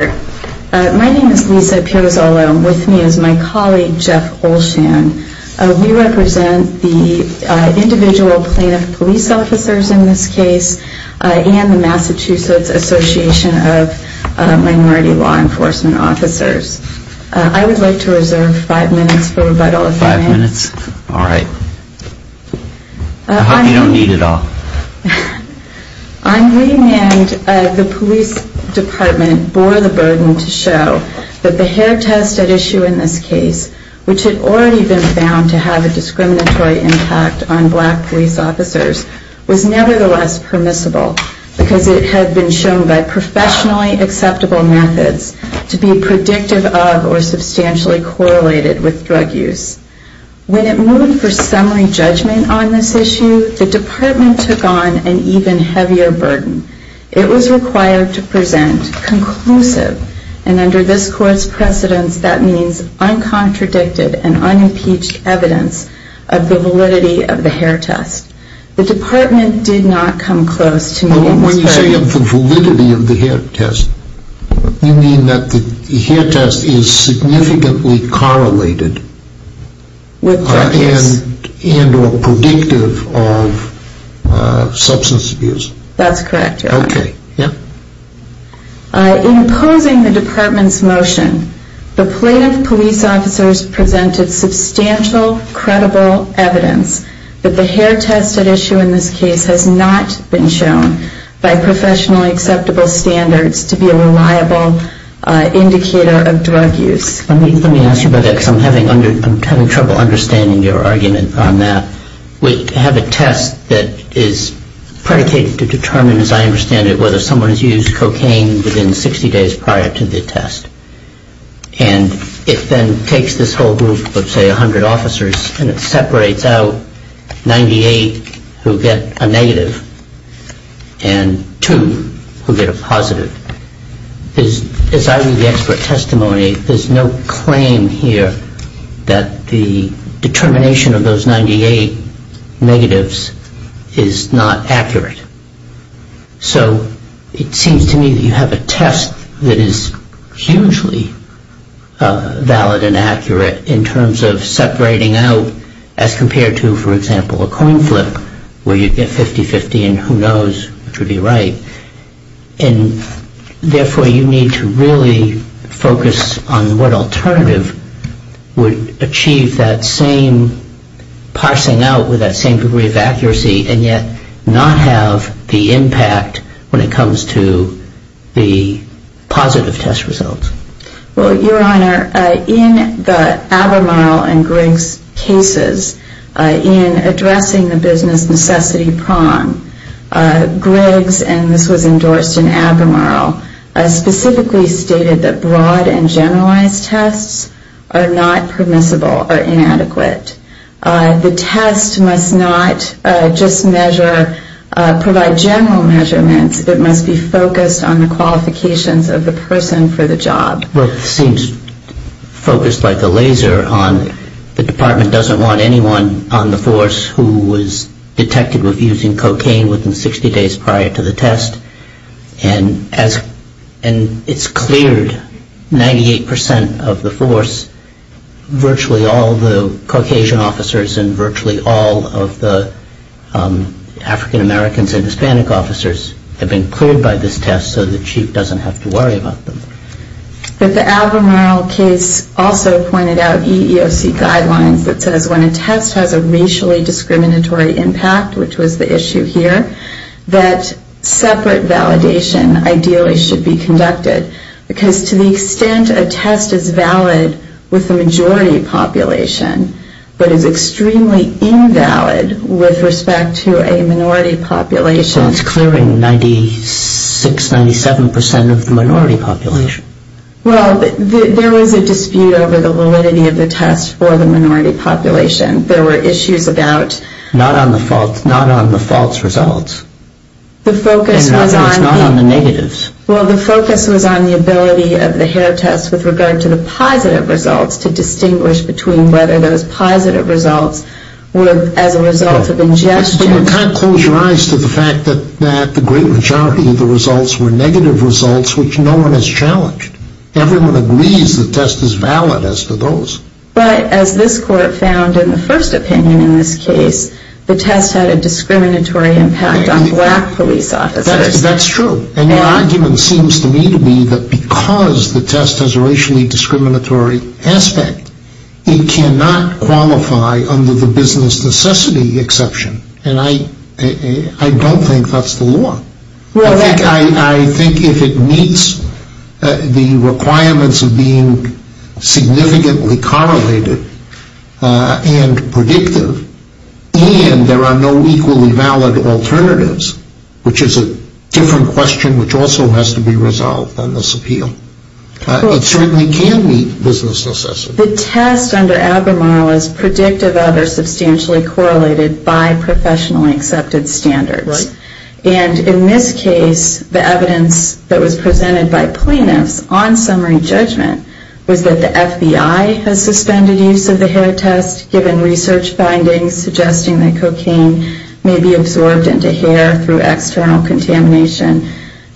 My name is Lisa Piazzolo. With me is my colleague, Jeff Olshan. We represent the Individual Plaintiff Police Officers in this case and the Massachusetts Association of Minority Law Enforcement Officers. I would like to reserve five minutes for rebuttal if I may. Five minutes? All right. I hope you don't need it all. On remand, the police department bore the burden to show that the hair test at issue in this case, which had already been found to have a discriminatory impact on black police officers, was nevertheless permissible because it had been shown by professionally acceptable methods to be predictive of or substantially correlated with drug use. When it moved for summary judgment on this issue, the department took on an even heavier burden. It was required to present conclusive, and under this court's precedence, that means uncontradicted and unimpeached evidence of the validity of the hair test. The department did not come close to me in this case. When you say of the validity of the hair test, you mean that the hair test is significantly correlated with drug use and or predictive of substance abuse? That's correct, Your Honor. Okay. Yeah? In opposing the department's motion, the plaintiff police officers presented substantial, credible evidence that the hair test at issue in this case has not been shown by professionally acceptable standards to be a reliable indicator of drug use. Let me ask you about that because I'm having trouble understanding your argument on that. We have a test that is predicated to determine, as I understand it, whether someone has used cocaine within 60 days prior to the test. And it then takes this whole group of, say, 100 officers, and it separates out 98 who get a negative and two who get a positive. As I read the expert testimony, there's no claim here that the determination of those 98 negatives is not accurate. So it seems to me that you have a test that is hugely valid and accurate in terms of separating out, as compared to, for example, a coin flip where you get 50-50 and who knows which would be right. And therefore, you need to really focus on what alternative would achieve that same parsing out with that same degree of accuracy and yet not have the impact when it comes to the positive test results. Well, Your Honor, in the Abermurl and Griggs cases, in addressing the business necessity prong, Griggs, and this was endorsed in Abermurl, specifically stated that broad and generalized tests are not permissible or inadequate. The test must not just measure, provide general measurements. It must be focused on the qualifications of the person for the job. Well, it seems focused like a laser on the department doesn't want anyone on the force who was detected with using cocaine within 60 days prior to the test. And it's cleared 98% of the force. Virtually all the Caucasian officers and virtually all of the African Americans and Hispanic officers have been cleared by this test so the chief doesn't have to worry about them. But the Abermurl case also pointed out EEOC guidelines that says when a test has a racially discriminatory impact, which was the issue here, that separate validation ideally should be conducted because to the extent a test is valid with the majority population but is extremely invalid with respect to a minority population. So it's clearing 96, 97% of the minority population. Well, there was a dispute over the validity of the test for the minority population. There were issues about. Not on the false results. The focus was on. It's not on the negatives. Well, the focus was on the ability of the hair test with regard to the positive results to distinguish between whether those positive results were as a result of ingestion. But you can't close your eyes to the fact that the great majority of the results were negative results which no one has challenged. Everyone agrees the test is valid as to those. But as this court found in the first opinion in this case, the test had a discriminatory impact on black police officers. That's true. And your argument seems to me to be that because the test has a racially discriminatory aspect, it cannot qualify under the business necessity exception. And I don't think that's the law. I think if it meets the requirements of being significantly correlated and predictive and there are no equally valid alternatives, which is a different question which also has to be resolved on this appeal. It certainly can meet business necessity. The test under Albemarle is predictive of or substantially correlated by professionally accepted standards. Right. And in this case, the evidence that was presented by plaintiffs on summary judgment was that the FBI has suspended use of the hair test given research findings suggesting that cocaine may be absorbed into hair through external contamination.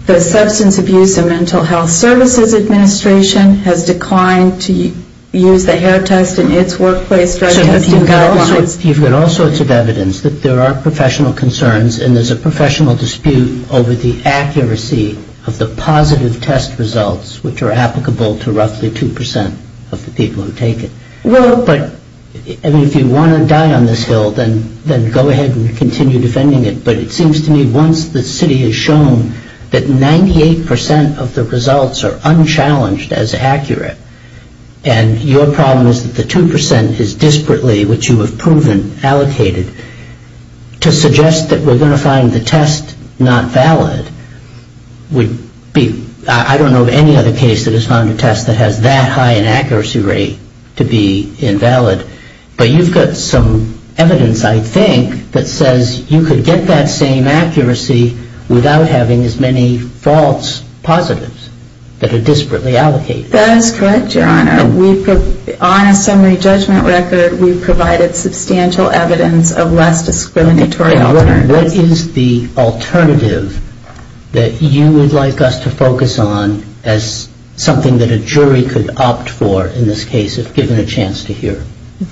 The Substance Abuse and Mental Health Services Administration has declined to use the hair test in its workplace drug testing guidelines. You've got all sorts of evidence that there are professional concerns and there's a professional dispute over the accuracy of the positive test results which are applicable to roughly 2% of the people who take it. Well, but if you want to die on this hill, then go ahead and continue defending it. But it seems to me once the city has shown that 98% of the results are unchallenged as accurate and your problem is that the 2% is disparately, which you have proven, allocated, to suggest that we're going to find the test not valid would be, I don't know of any other case that has found a test that has that high an accuracy rate to be invalid. But you've got some evidence, I think, that says you could get that same accuracy without having as many false positives that are disparately allocated. That is correct, Your Honor. On a summary judgment record, we've provided substantial evidence of less discriminatory alternatives. What is the alternative that you would like us to focus on as something that a jury could opt for in this case if given a chance to hear?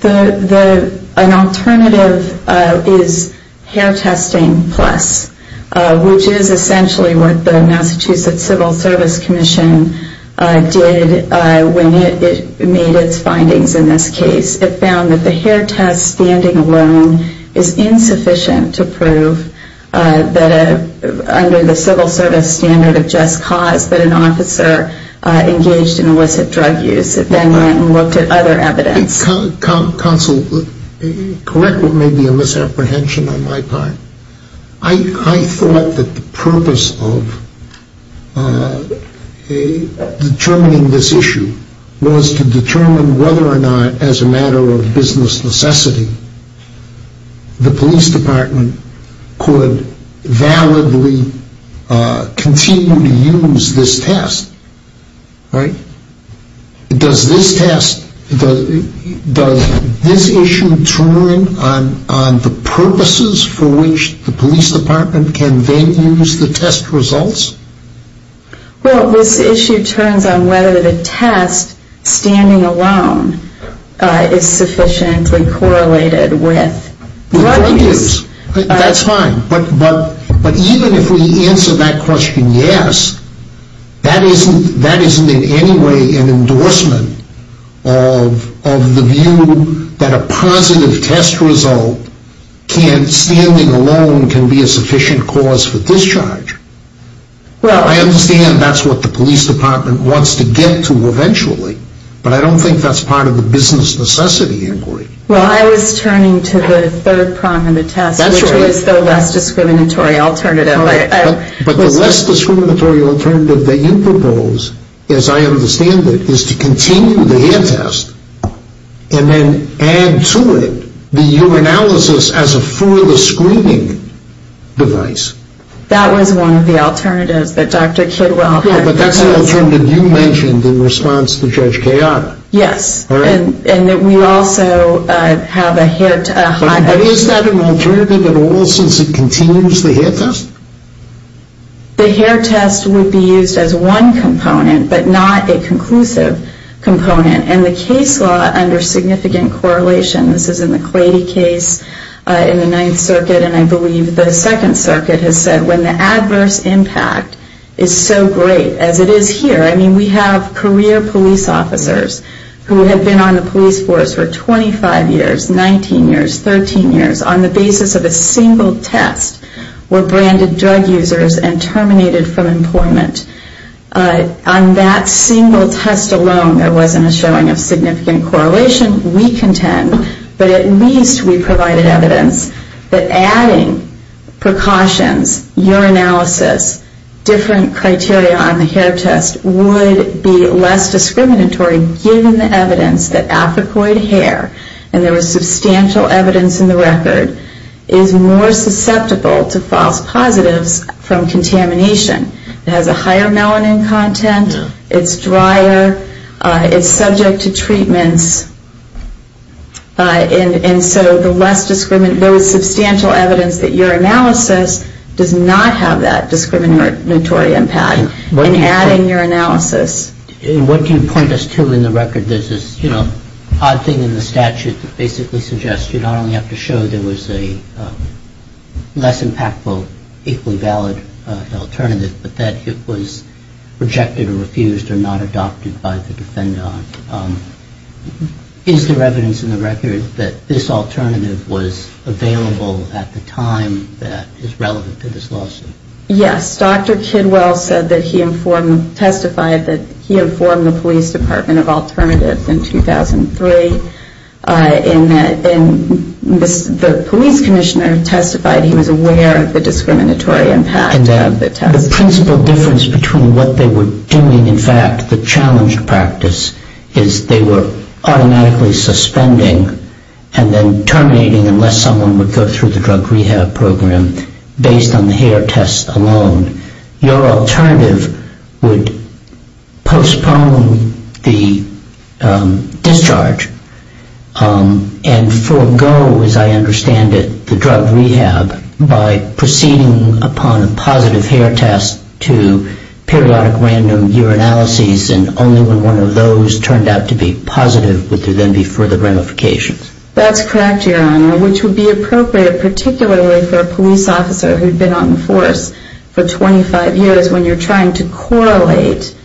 An alternative is hair testing plus, which is essentially what the Massachusetts Civil Service Commission did when it made its findings in this case. It found that the hair test standing alone is insufficient to prove that under the civil service standard of just cause that an officer engaged in illicit drug use. It then went and looked at other evidence. Counsel, correct what may be a misapprehension on my part. I thought that the purpose of determining this issue was to determine whether or not, as a matter of business necessity, the police department could validly continue to use this test. Does this test, does this issue turn on the purposes for which the police department can then use the test results? Well, this issue turns on whether the test standing alone is sufficiently correlated with drug use. That's fine, but even if we answer that question yes, that isn't in any way an endorsement of the view that a positive test result, standing alone can be a sufficient cause for discharge. I understand that's what the police department wants to get to eventually, but I don't think that's part of the business necessity inquiry. Well, I was turning to the third prong of the test, which was the less discriminatory alternative. But the less discriminatory alternative that you propose, as I understand it, is to continue the hair test and then add to it the urinalysis as a further screening device. That was one of the alternatives that Dr. Kidwell had proposed. Yeah, but that's an alternative you mentioned in response to Judge Kayada. Yes, and we also have a hair test. But is that an alternative at all since it continues the hair test? The hair test would be used as one component, but not a conclusive component. And the case law under significant correlation, this is in the Clady case in the Ninth Circuit, and I believe the Second Circuit has said when the adverse impact is so great, as it is here, I mean, we have career police officers who have been on the police force for 25 years, 19 years, 13 years, on the basis of a single test were branded drug users and terminated from employment. On that single test alone, there wasn't a showing of significant correlation. We contend, but at least we provided evidence that adding precautions, urinalysis, different criteria on the hair test would be less discriminatory given the evidence that africoid hair, and there was substantial evidence in the record, is more susceptible to false positives from contamination. It has a higher melanin content, it's drier, it's subject to treatments, and so there was substantial evidence that urinalysis does not have that discriminatory impact in adding urinalysis. And what do you point us to in the record? There's this odd thing in the statute that basically suggests you not only have to show there was a less impactful, equally valid alternative, but that it was rejected or refused or not adopted by the defendant. Is there evidence in the record that this alternative was available at the time that is relevant to this lawsuit? Yes, Dr. Kidwell said that he informed, testified that he informed the police department of alternatives in 2003, and the police commissioner testified he was aware of the discriminatory impact of the test. The principal difference between what they were doing, in fact, the challenged practice, is they were automatically suspending and then terminating unless someone would go through the drug rehab program based on the hair test alone. Your alternative would postpone the discharge and forego, as I understand it, the drug rehab by proceeding upon a positive hair test to periodic random urinalyses, and only when one of those turned out to be positive would there then be further ramifications. That's correct, Your Honor, which would be appropriate particularly for a police officer who had been on the force for 25 years when you're trying to correlate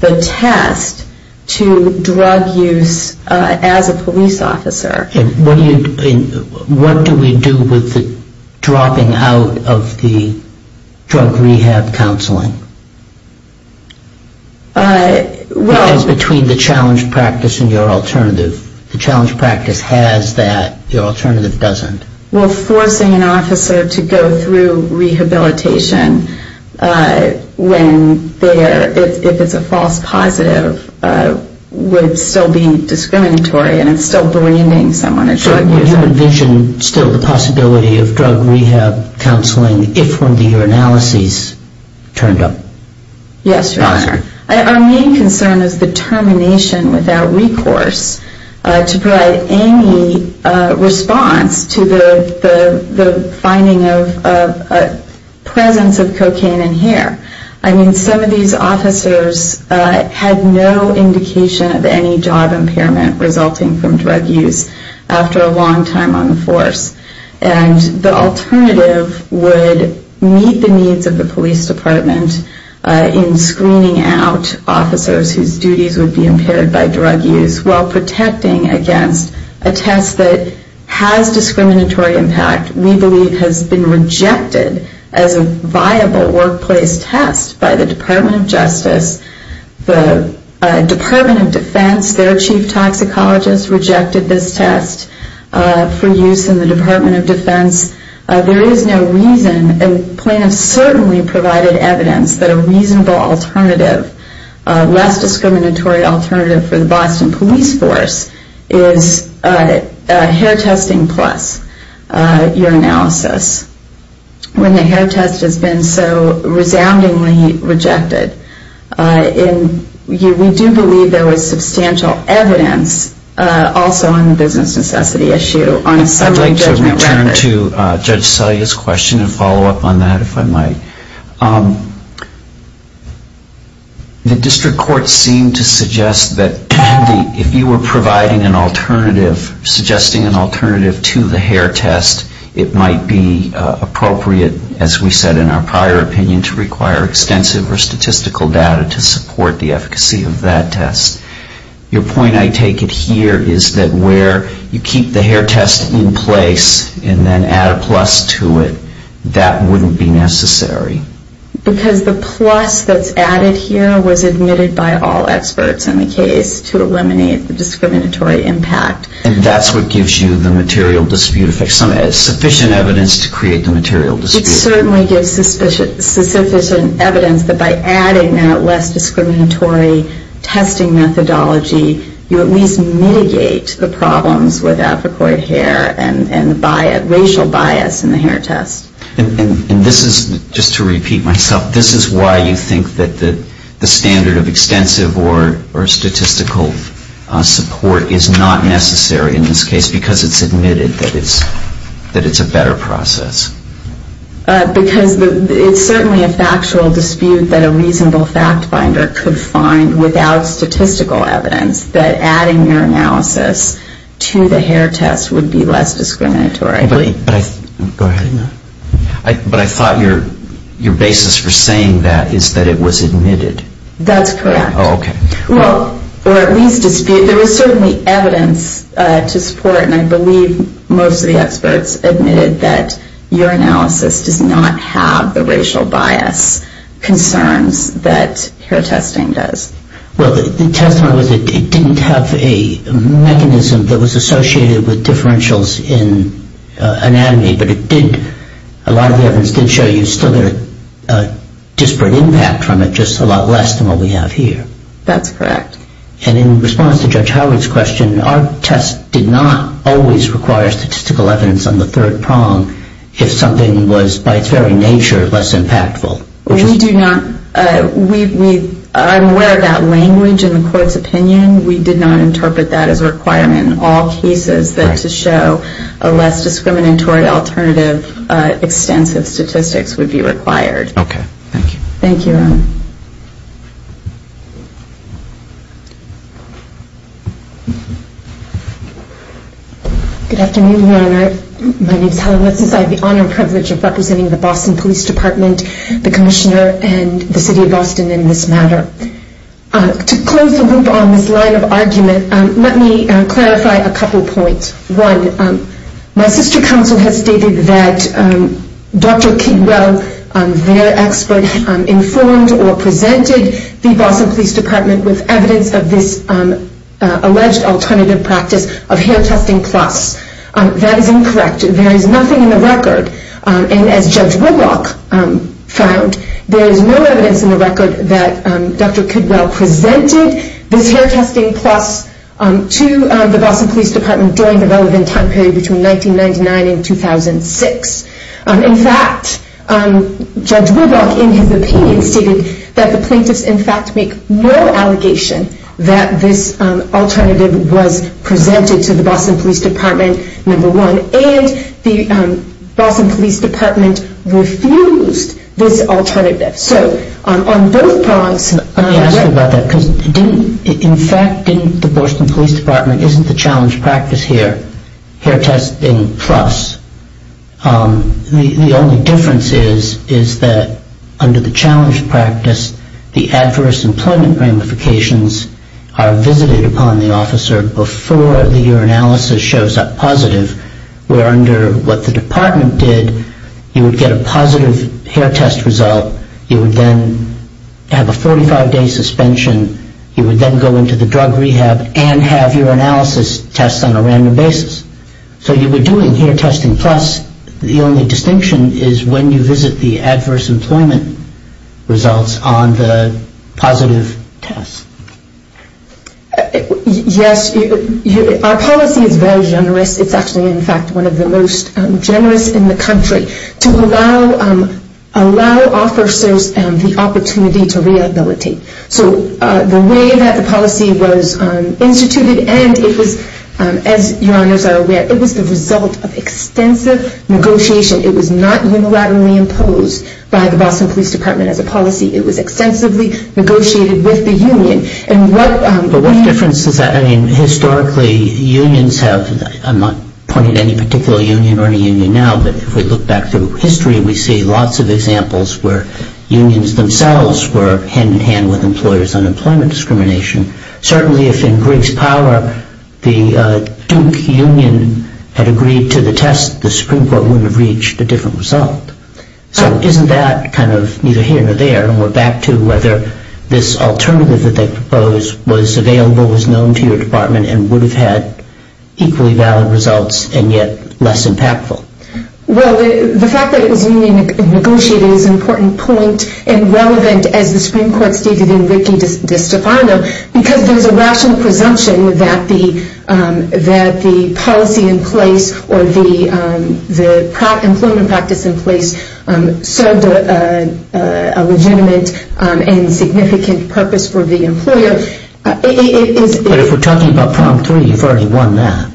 the test to drug use as a police officer. What do we do with the dropping out of the drug rehab counseling? It's between the challenged practice and your alternative. The challenged practice has that, your alternative doesn't. Well, forcing an officer to go through rehabilitation when there, if it's a false positive, would still be discriminatory and it's still blaming someone. So you envision still the possibility of drug rehab counseling if one of the urinalyses turned up positive? Yes, Your Honor. Our main concern is the termination without recourse to provide any response to the finding of presence of cocaine in hair. I mean, some of these officers had no indication of any job impairment resulting from drug use after a long time on the force. And the alternative would meet the needs of the police department in screening out officers whose duties would be impaired by drug use while protecting against a test that has discriminatory impact, we believe has been rejected as a viable workplace test by the Department of Justice. The Department of Defense, their chief toxicologist rejected this test for use in the Department of Defense. There is no reason, and plaintiffs certainly provided evidence that a reasonable alternative, less discriminatory alternative for the Boston police force is hair testing plus urinalysis. When the hair test has been so resoundingly rejected, we do believe there was substantial evidence also on the business necessity issue on a summary judgment record. I would like to return to Judge Selye's question and follow up on that, if I might. The district court seemed to suggest that if you were providing an alternative, suggesting an alternative to the hair test, it might be appropriate, as we said in our prior opinion, to require extensive or statistical data to support the efficacy of that test. Your point, I take it here, is that where you keep the hair test in place and then add a plus to it, that wouldn't be necessary. Because the plus that's added here was admitted by all experts in the case to eliminate the discriminatory impact. And that's what gives you the material dispute effect, sufficient evidence to create the material dispute. It certainly gives sufficient evidence that by adding that less discriminatory testing methodology, you at least mitigate the problems with Africoid hair and racial bias in the hair test. And this is, just to repeat myself, this is why you think that the standard of extensive or statistical support is not necessary in this case because it's admitted that it's a better process. Because it's certainly a factual dispute that a reasonable fact finder could find without statistical evidence that adding your analysis to the hair test would be less discriminatory. But I thought your basis for saying that is that it was admitted. That's correct. Oh, okay. Well, or at least dispute. There is certainly evidence to support, and I believe most of the experts admitted, that your analysis does not have the racial bias concerns that hair testing does. Well, the testament was it didn't have a mechanism that was associated with differentials in anatomy, but it did, a lot of the evidence did show you still had a disparate impact from it, just a lot less than what we have here. That's correct. And in response to Judge Howard's question, our test did not always require statistical evidence on the third prong if something was by its very nature less impactful. We do not. I'm aware of that language in the court's opinion. We did not interpret that as a requirement in all cases that to show a less discriminatory alternative extensive statistics would be required. Okay. Thank you. Thank you, Ron. Good afternoon, Your Honor. My name is Helen Wetzel. I have the honor and privilege of representing the Boston Police Department, the Commissioner, and the City of Boston in this matter. To close the loop on this line of argument, let me clarify a couple points. One, my sister counsel has stated that Dr. Kidwell, their expert, informed or presented the Boston Police Department with evidence of this alleged alternative practice of hair testing plus. That is incorrect. There is nothing in the record, and as Judge Woodrock found, there is no evidence in the record that Dr. Kidwell presented this hair testing plus to the Boston Police Department during the relevant time period between 1999 and 2006. In fact, Judge Woodrock in his opinion stated that the plaintiffs in fact make no allegation that this alternative was presented to the Boston Police Department, number one, and the Boston Police Department refused this alternative. Let me ask you about that. In fact, the Boston Police Department isn't the challenge practice here, hair testing plus. The only difference is that under the challenge practice, the adverse employment ramifications are visited upon the officer before the urinalysis shows up positive, where under what the department did, you would get a positive hair test result. You would then have a 45-day suspension. You would then go into the drug rehab and have urinalysis tests on a random basis. So you were doing hair testing plus. The only distinction is when you visit the adverse employment results on the positive test. Yes. Our policy is very generous. It's actually, in fact, one of the most generous in the country to allow officers the opportunity to rehabilitate. So the way that the policy was instituted and it was, as your honors are aware, it was the result of extensive negotiation. It was not unilaterally imposed by the Boston Police Department as a policy. It was extensively negotiated with the union. But what difference does that make? Historically, unions have, I'm not pointing to any particular union or any union now, but if we look back through history, we see lots of examples where unions themselves were hand-in-hand with employers on employment discrimination. Certainly, if in Griggs Power, the Duke Union had agreed to the test, the Supreme Court wouldn't have reached a different result. So isn't that kind of neither here nor there? I don't want to go back to whether this alternative that they proposed was available, was known to your department, and would have had equally valid results and yet less impactful. Well, the fact that it was union negotiated is an important point and relevant as the Supreme Court stated in Ricci di Stefano because there's a rational presumption that the policy in place or the employment practice in place served a legitimate and significant purpose for the employer. But if we're talking about prong three, you've already won that.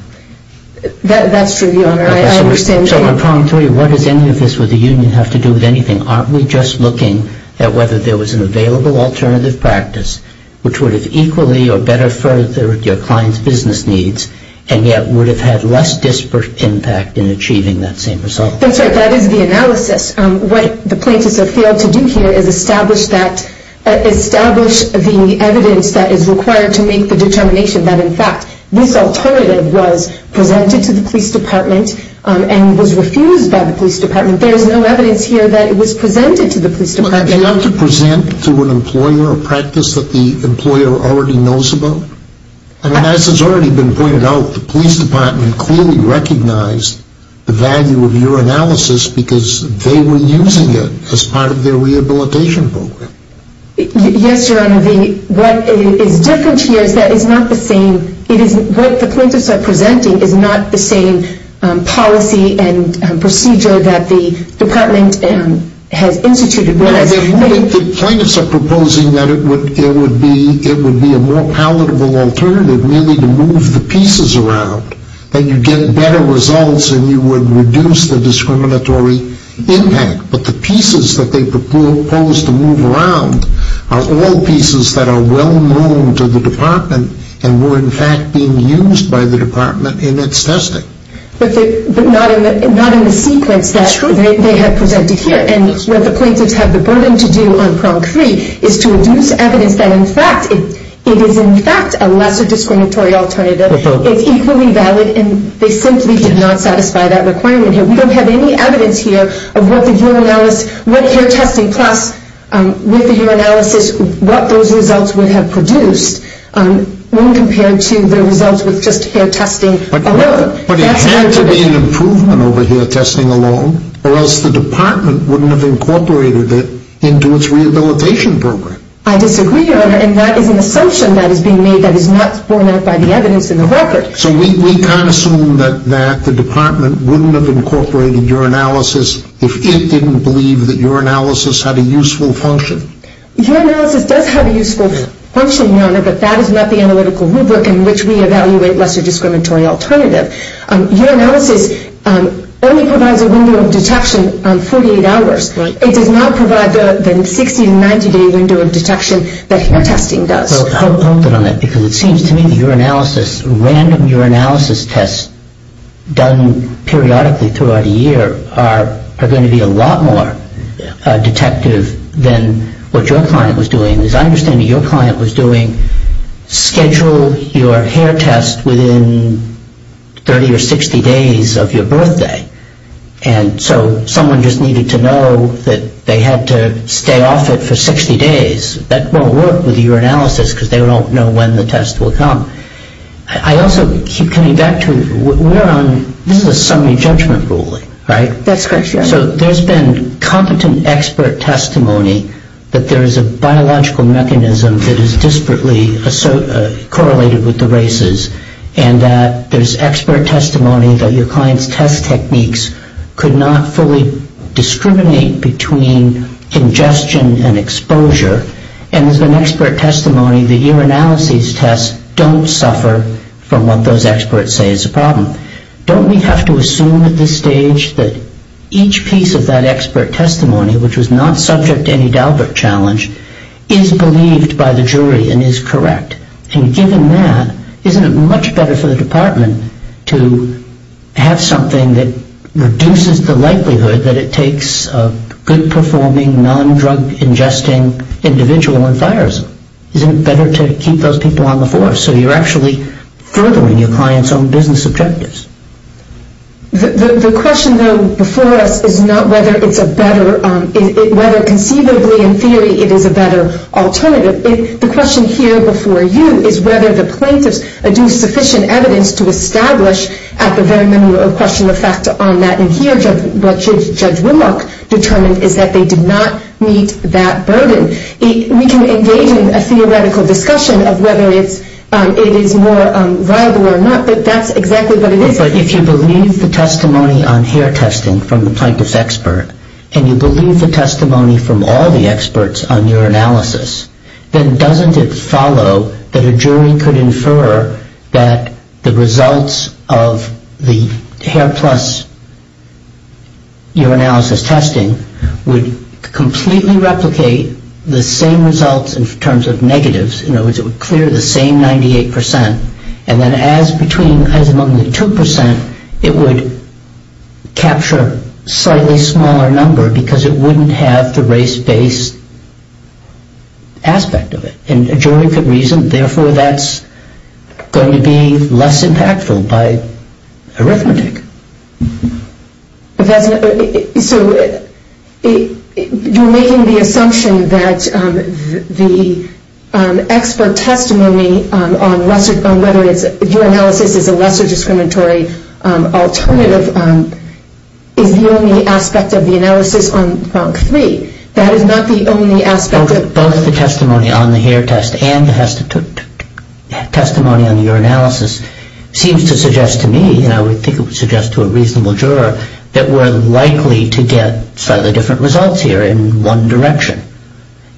That's true, Your Honor. I understand. So on prong three, what does any of this with the union have to do with anything? Aren't we just looking at whether there was an available alternative practice which would have equally or better furthered your client's business needs and yet would have had less disparate impact in achieving that same result? That's right. That is the analysis. What the plaintiffs have failed to do here is establish that, establish the evidence that is required to make the determination that, in fact, this alternative was presented to the police department and was refused by the police department. There is no evidence here that it was presented to the police department. But they have to present to an employer a practice that the employer already knows about? And as has already been pointed out, the police department clearly recognized the value of your analysis because they were using it as part of their rehabilitation program. Yes, Your Honor. What is different here is that it's not the same. What the plaintiffs are presenting is not the same policy and procedure that the department has instituted. The plaintiffs are proposing that it would be a more palatable alternative merely to move the pieces around and you'd get better results and you would reduce the discriminatory impact. But the pieces that they propose to move around are all pieces that are well known to the department and were, in fact, being used by the department in its testing. But not in the sequence that they have presented here. And what the plaintiffs have the burden to do on prong three is to reduce evidence that, in fact, it is, in fact, a lesser discriminatory alternative. It's equally valid and they simply did not satisfy that requirement here. We don't have any evidence here of what hair testing plus with the hair analysis, what those results would have produced when compared to the results with just hair testing alone. But it had to be an improvement over here, testing alone, or else the department wouldn't have incorporated it into its rehabilitation program. I disagree, Your Honor, and that is an assumption that is being made that is not borne out by the evidence in the record. So we can't assume that the department wouldn't have incorporated your analysis if it didn't believe that your analysis had a useful function? Your analysis does have a useful function, Your Honor, but that is not the analytical rubric in which we evaluate lesser discriminatory alternative. Your analysis only provides a window of detection on 48 hours. It does not provide the 60- to 90-day window of detection that hair testing does. Well, I'll build on that because it seems to me that your analysis, random urinalysis tests done periodically throughout a year are going to be a lot more detective than what your client was doing. As I understand it, your client was doing schedule your hair test within 30 or 60 days of your birthday. And so someone just needed to know that they had to stay off it for 60 days. That won't work with urinalysis because they don't know when the test will come. I also keep coming back to, we're on, this is a summary judgment ruling, right? That's correct, Your Honor. So there's been competent expert testimony that there is a biological mechanism that is disparately correlated with the races, and that there's expert testimony that your client's test techniques could not fully discriminate between ingestion and exposure. And there's been expert testimony that urinalysis tests don't suffer from what those experts say is a problem. Don't we have to assume at this stage that each piece of that expert testimony, which was not subject to any Dalbert challenge, is believed by the jury and is correct? And given that, isn't it much better for the department to have something that reduces the likelihood that it takes a good-performing, non-drug-ingesting individual in fires? Isn't it better to keep those people on the force so you're actually furthering your client's own business objectives? The question, though, before us is not whether it's a better, whether conceivably in theory it is a better alternative. The question here before you is whether the plaintiffs do sufficient evidence to establish at the very minimum a question of fact on that. And here what Judge Winlock determined is that they did not meet that burden. We can engage in a theoretical discussion of whether it is more viable or not, but that's exactly what it is. But if you believe the testimony on hair testing from the plaintiff's expert and you believe the testimony from all the experts on urinalysis, then doesn't it follow that a jury could infer that the results of the hair plus urinalysis testing would completely replicate the same results in terms of negatives? In other words, it would clear the same 98 percent, and then as among the 2 percent it would capture a slightly smaller number because it wouldn't have the race-based aspect of it. And a jury could reason, therefore, that's going to be less impactful by arithmetic. So you're making the assumption that the expert testimony on whether urinalysis is a lesser discriminatory alternative is the only aspect of the analysis on front three. That is not the only aspect. Both the testimony on the hair test and the testimony on urinalysis seems to suggest to me, and I would think it would suggest to a reasonable juror, that we're likely to get slightly different results here in one direction.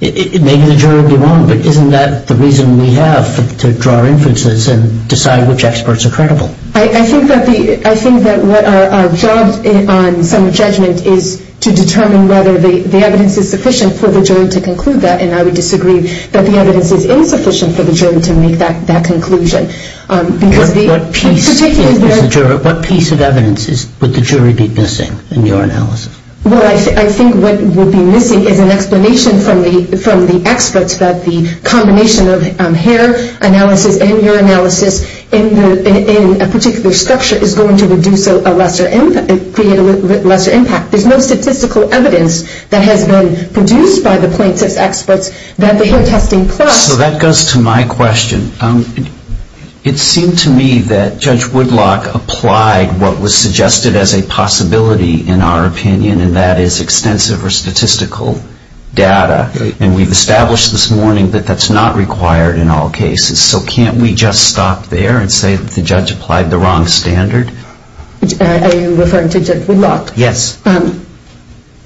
Maybe the juror would be wrong, but isn't that the reason we have to draw inferences and decide which experts are credible? I think that our job on summary judgment is to determine whether the evidence is sufficient for the jury to conclude that, and I would disagree that the evidence is insufficient for the jury to make that conclusion. What piece of evidence would the jury be missing in urinalysis? Well, I think what would be missing is an explanation from the experts that the combination of hair analysis and urinalysis in a particular structure is going to create a lesser impact. There's no statistical evidence that has been produced by the plaintiffs' experts that the hair testing plus So that goes to my question. It seemed to me that Judge Woodlock applied what was suggested as a possibility in our opinion, and that is extensive or statistical data, and we've established this morning that that's not required in all cases. So can't we just stop there and say that the judge applied the wrong standard? Are you referring to Judge Woodlock? Yes.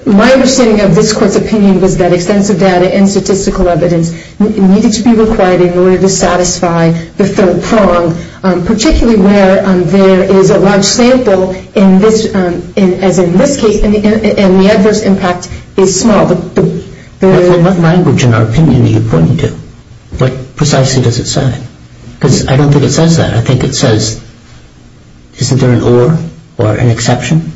My understanding of this Court's opinion was that extensive data and statistical evidence needed to be required in order to satisfy the third prong, particularly where there is a large sample, as in this case, and the adverse impact is small. What language in our opinion are you pointing to? What precisely does it say? Because I don't think it says that. I think it says, isn't there an or or an exception?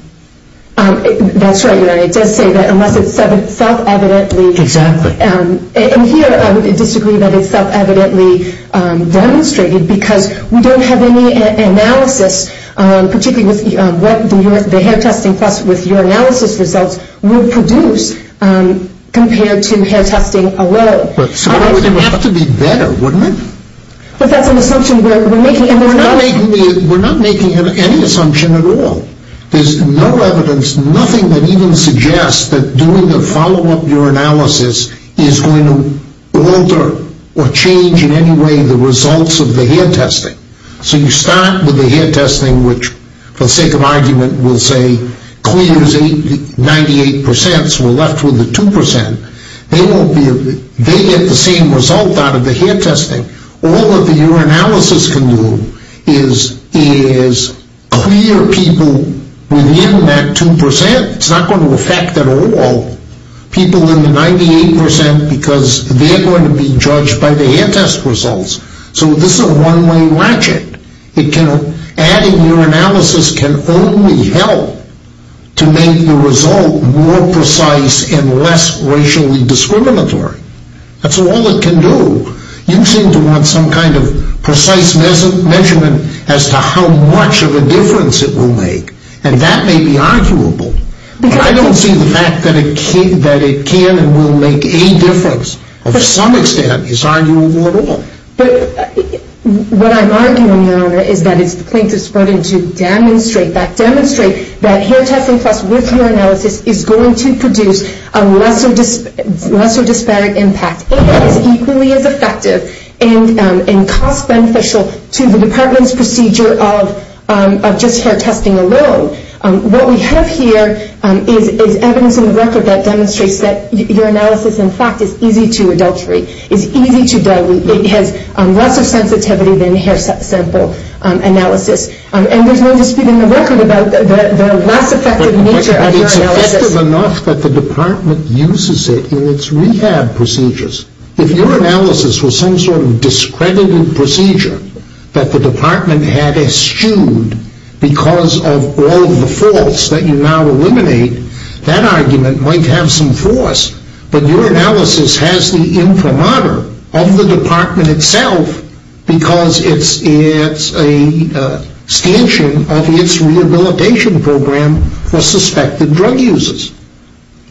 That's right, Your Honor. It does say that unless it's self-evidently Exactly. And here I would disagree that it's self-evidently demonstrated because we don't have any analysis, particularly with what the hair testing plus with your analysis results would produce compared to hair testing alone. But it would have to be better, wouldn't it? But that's an assumption we're making. We're not making any assumption at all. There's no evidence, nothing that even suggests that doing a follow-up urinalysis is going to alter or change in any way the results of the hair testing. So you start with the hair testing, which, for the sake of argument, will say clears 98 percent, so we're left with the 2 percent. They get the same result out of the hair testing. All that the urinalysis can do is clear people within that 2 percent. It's not going to affect at all people in the 98 percent because they're going to be judged by the hair test results. So this is a one-way ratchet. Adding urinalysis can only help to make the result more precise and less racially discriminatory. That's all it can do. You seem to want some kind of precise measurement as to how much of a difference it will make, and that may be arguable. I don't see the fact that it can and will make any difference of some extent as arguable at all. But what I'm arguing, Your Honor, is that it's the plaintiff's burden to demonstrate that hair testing plus with hair analysis is going to produce a lesser disparate impact and is equally as effective and cost-beneficial to the department's procedure of just hair testing alone. What we have here is evidence in the record that demonstrates that urinalysis, in fact, is easy to adulterate, is easy to dilute. It has lesser sensitivity than hair sample analysis, and there's no dispute in the record about the less effective nature of urinalysis. It's effective enough that the department uses it in its rehab procedures. If urinalysis was some sort of discredited procedure that the department had eschewed because of all of the faults that you now eliminate, that argument might have some force, but urinalysis has the imprimatur of the department itself because it's a stanchion of its rehabilitation program for suspected drug users.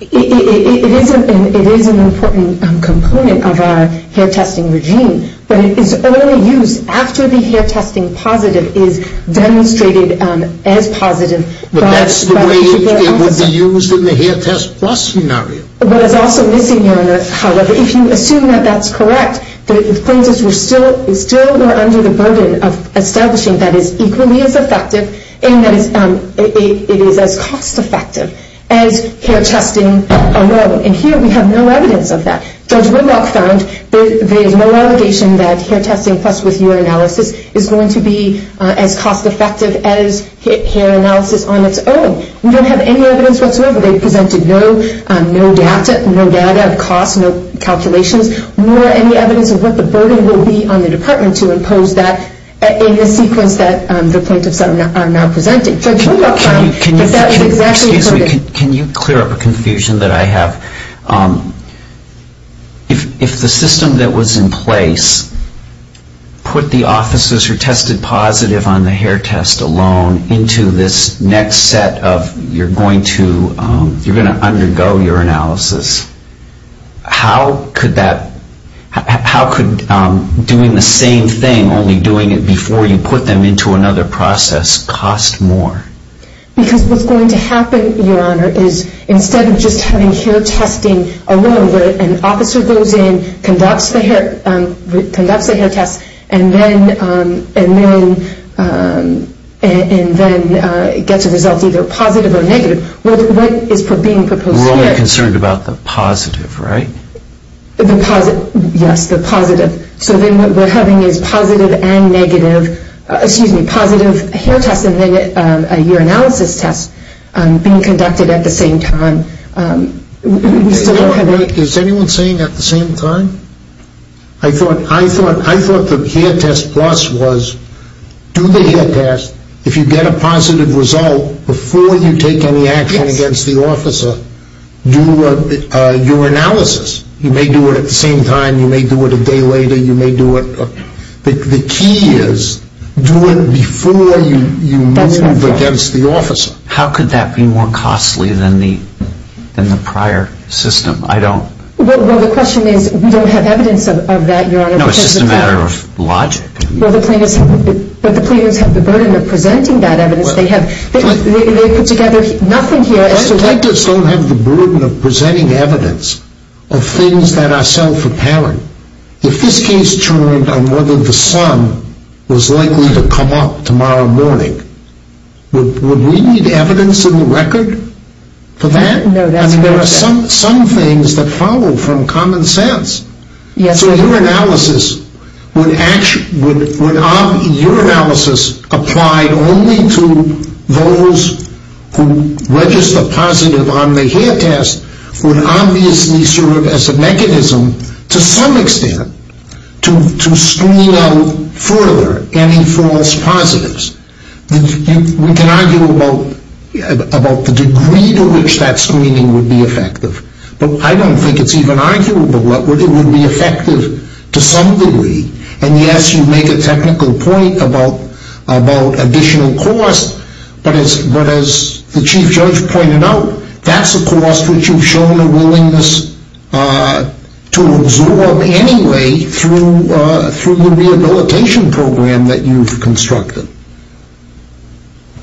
It is an important component of our hair testing regime, but it is only used after the hair testing positive is demonstrated as positive. But that's the way it would be used in the hair test plus scenario. But it's also missing, Your Honor, however, if you assume that that's correct, that the plaintiffs were still under the burden of establishing that it's equally as effective and that it is as cost-effective as hair testing alone. And here we have no evidence of that. Judge Whitlock found there is no allegation that hair testing plus urinalysis is going to be as cost-effective as hair analysis on its own. We don't have any evidence whatsoever. They presented no data of cost, no calculations, nor any evidence of what the burden will be on the department to impose that in the sequence that the plaintiffs are now presenting. Judge Whitlock found that that is exactly correct. Excuse me. Can you clear up a confusion that I have? If the system that was in place put the officers who tested positive on the hair test alone into this next set of you're going to undergo urinalysis, how could doing the same thing, only doing it before you put them into another process, cost more? Because what's going to happen, Your Honor, is instead of just having hair testing alone where an officer goes in, conducts the hair test, and then gets a result either positive or negative, what is being proposed here? We're only concerned about the positive, right? Yes, the positive. So then what we're having is positive and negative, excuse me, positive hair tests and then a urinalysis test being conducted at the same time. Is anyone saying at the same time? I thought the hair test plus was do the hair test, if you get a positive result, before you take any action against the officer, do your analysis. You may do it at the same time, you may do it a day later, you may do it. The key is do it before you move against the officer. How could that be more costly than the prior system? Well, the question is we don't have evidence of that, Your Honor. No, it's just a matter of logic. But the plaintiffs have the burden of presenting that evidence. They put together nothing here. Plaintiffs don't have the burden of presenting evidence of things that are self apparent. If this case turned on whether the sun was likely to come up tomorrow morning, would we need evidence in the record for that? No, that's what I said. I mean there are some things that follow from common sense. Yes. So your analysis would actually, your analysis applied only to those who register positive on the hair test would obviously serve as a mechanism to some extent to screen out further any false positives. We can argue about the degree to which that screening would be effective, but I don't think it's even arguable that it would be effective to some degree. And yes, you make a technical point about additional cost, but as the Chief Judge pointed out, that's a cost which you've shown a willingness to absorb anyway through the rehabilitation program that you've constructed.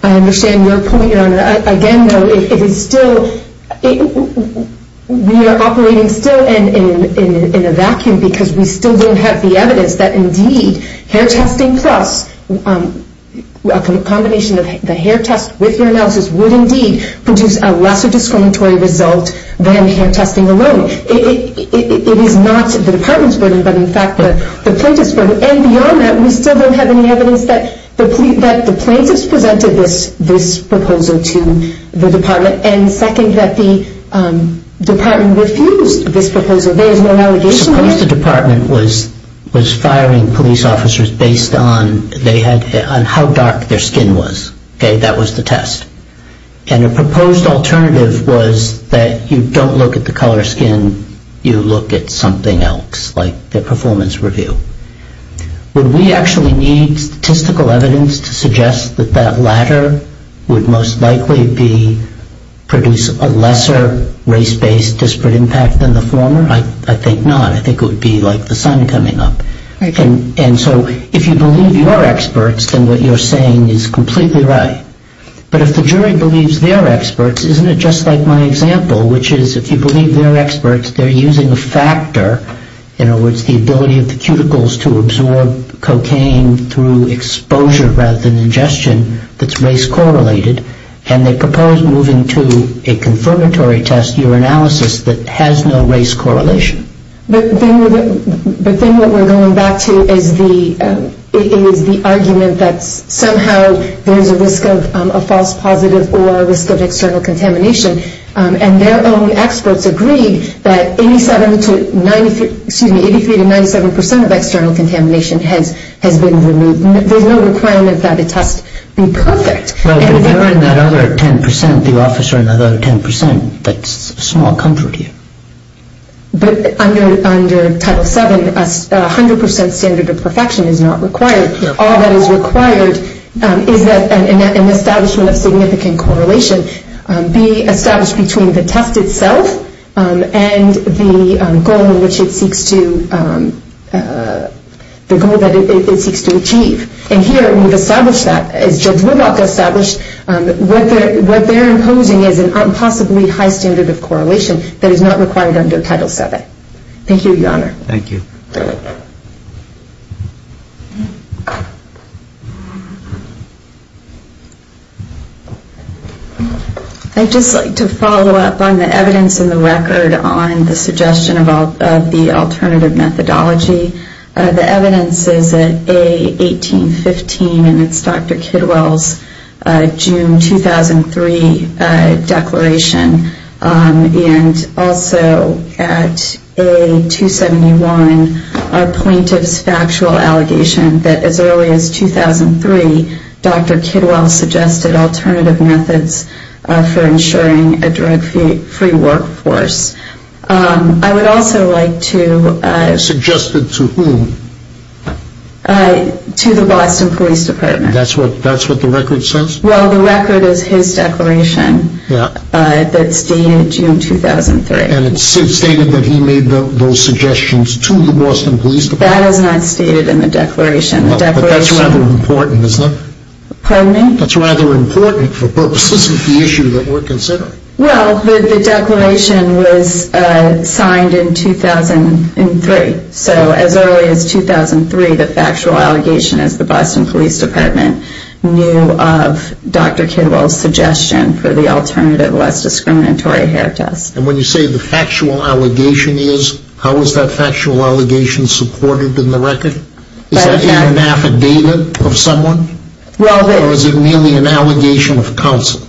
I understand your point, Your Honor. Again, though, it is still, we are operating still in a vacuum because we still don't have the evidence that indeed hair testing plus a combination of the hair test with your analysis would indeed produce a lesser discriminatory result than hair testing alone. It is not the Department's burden, but in fact the plaintiff's burden. And beyond that, we still don't have any evidence that the plaintiff's presented this proposal to the Department and second, that the Department refused this proposal. There is no allegation there. Suppose the Department was firing police officers based on how dark their skin was. Okay, that was the test. And a proposed alternative was that you don't look at the color of skin, you look at something else like their performance review. Would we actually need statistical evidence to suggest that that latter would most likely be, produce a lesser race-based disparate impact than the former? I think not. I think it would be like the sun coming up. And so if you believe your experts, then what you're saying is completely right. But if the jury believes their experts, isn't it just like my example, which is if you believe their experts, they're using a factor, in other words, the ability of the cuticles to absorb cocaine through exposure rather than ingestion that's race-correlated, and they propose moving to a confirmatory test, your analysis, that has no race correlation. But then what we're going back to is the argument that somehow there's a risk of a false positive or a risk of external contamination. And their own experts agreed that 83 to 97 percent of external contamination has been removed. There's no requirement that the test be perfect. No, but if you're in that other 10 percent, the officer in that other 10 percent, that's a small comfort here. But under Title VII, a 100 percent standard of perfection is not required. All that is required is that an establishment of significant correlation be established between the test itself and the goal that it seeks to achieve. And here we've established that, as Judge Woodlock established, what they're imposing is a possibly high standard of correlation that is not required under Title VII. Thank you, Your Honor. Thank you. I'd just like to follow up on the evidence in the record on the suggestion of the alternative methodology. The evidence is at A1815, and it's Dr. Kidwell's June 2003 declaration. And also at A271, a plaintiff's factual allegation that as early as 2003, Dr. Kidwell suggested alternative methods for ensuring a drug-free workforce. I would also like to... Suggested to whom? To the Boston Police Department. That's what the record says? Well, the record is his declaration that's dated June 2003. And it's stated that he made those suggestions to the Boston Police Department? That is not stated in the declaration. Well, but that's rather important, isn't it? Pardon me? That's rather important for purposes of the issue that we're considering. Well, the declaration was signed in 2003. So as early as 2003, the factual allegation is the Boston Police Department knew of Dr. Kidwell's suggestion for the alternative, less discriminatory hair test. And when you say the factual allegation is, how is that factual allegation supported in the record? Is that in an affidavit of someone? Or is it merely an allegation of counsel?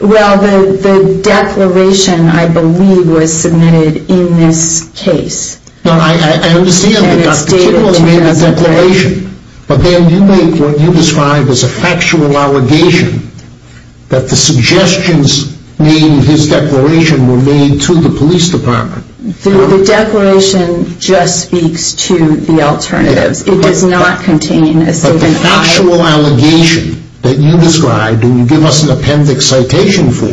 Well, the declaration, I believe, was submitted in this case. I understand that Dr. Kidwell made a declaration. But then you make what you describe as a factual allegation that the suggestions made in his declaration were made to the police department. The declaration just speaks to the alternatives. It does not contain a statement. The factual allegation that you described and you give us an appendix citation for,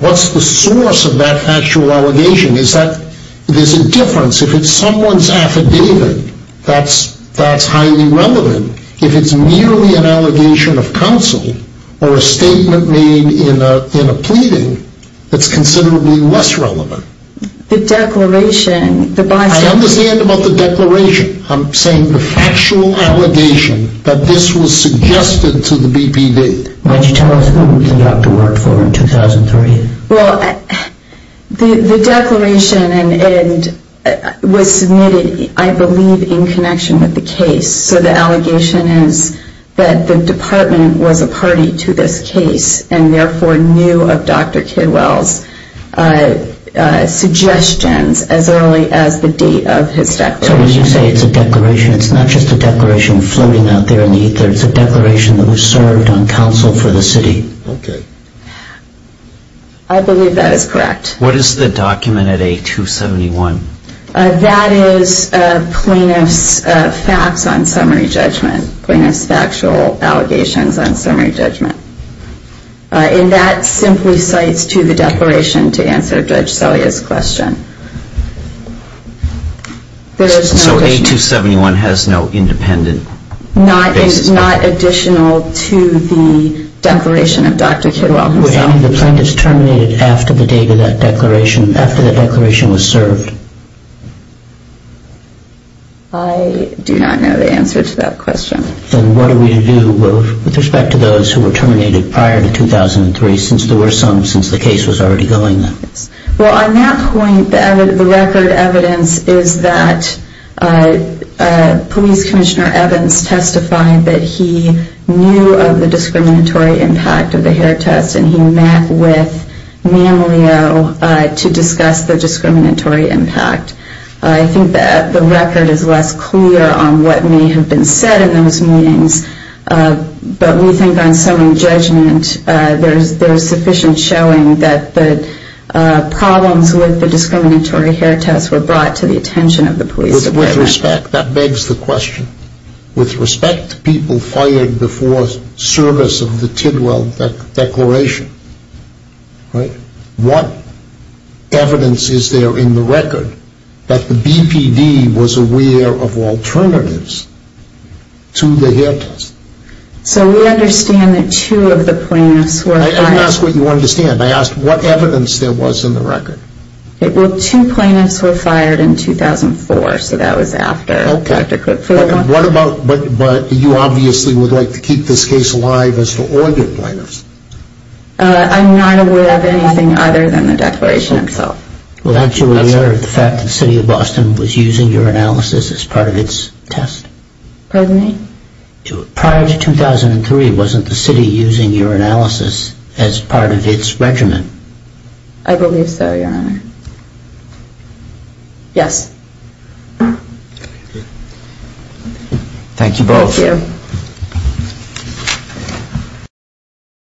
what's the source of that factual allegation? Is that there's a difference? If it's someone's affidavit, that's highly relevant. If it's merely an allegation of counsel or a statement made in a pleading, that's considerably less relevant. The declaration, the bystander... I understand about the declaration. I'm saying the factual allegation that this was suggested to the BPD. Why don't you tell us who the doctor worked for in 2003? Well, the declaration was submitted, I believe, in connection with the case. So the allegation is that the department was a party to this case and therefore knew of Dr. Kidwell's suggestions as early as the date of his declaration. So when you say it's a declaration, it's not just a declaration floating out there in the ether. It's a declaration that was served on counsel for the city. Okay. I believe that is correct. What is the document at A271? That is plaintiff's facts on summary judgment, plaintiff's factual allegations on summary judgment. And that simply cites to the declaration to answer Judge Selya's question. So A271 has no independent basis? Not additional to the declaration of Dr. Kidwell himself. Would any of the plaintiffs terminate it after the date of that declaration, after the declaration was served? I do not know the answer to that question. Then what are we to do with respect to those who were terminated prior to 2003, since there were some since the case was already going? Well, on that point, the record evidence is that Police Commissioner Evans testified that he knew of the discriminatory impact of the hair test and he met with Mammaleo to discuss the discriminatory impact. I think that the record is less clear on what may have been said in those meetings, but we think on summary judgment, there is sufficient showing that the problems with the discriminatory hair test were brought to the attention of the police department. With respect, that begs the question, with respect to people fired before service of the Tidwell Declaration, what evidence is there in the record that the BPD was aware of alternatives to the hair test? So we understand that two of the plaintiffs were fired. I didn't ask what you wanted to understand. I asked what evidence there was in the record. Well, two plaintiffs were fired in 2004, so that was after Dr. Kidwell. But you obviously would like to keep this case alive as for all the plaintiffs. I'm not aware of anything other than the Declaration itself. Well, aren't you aware of the fact that the City of Boston was using your analysis as part of its test? Pardon me? Prior to 2003, wasn't the City using your analysis as part of its regiment? I believe so, Your Honor. Yes. Thank you both. Thank you.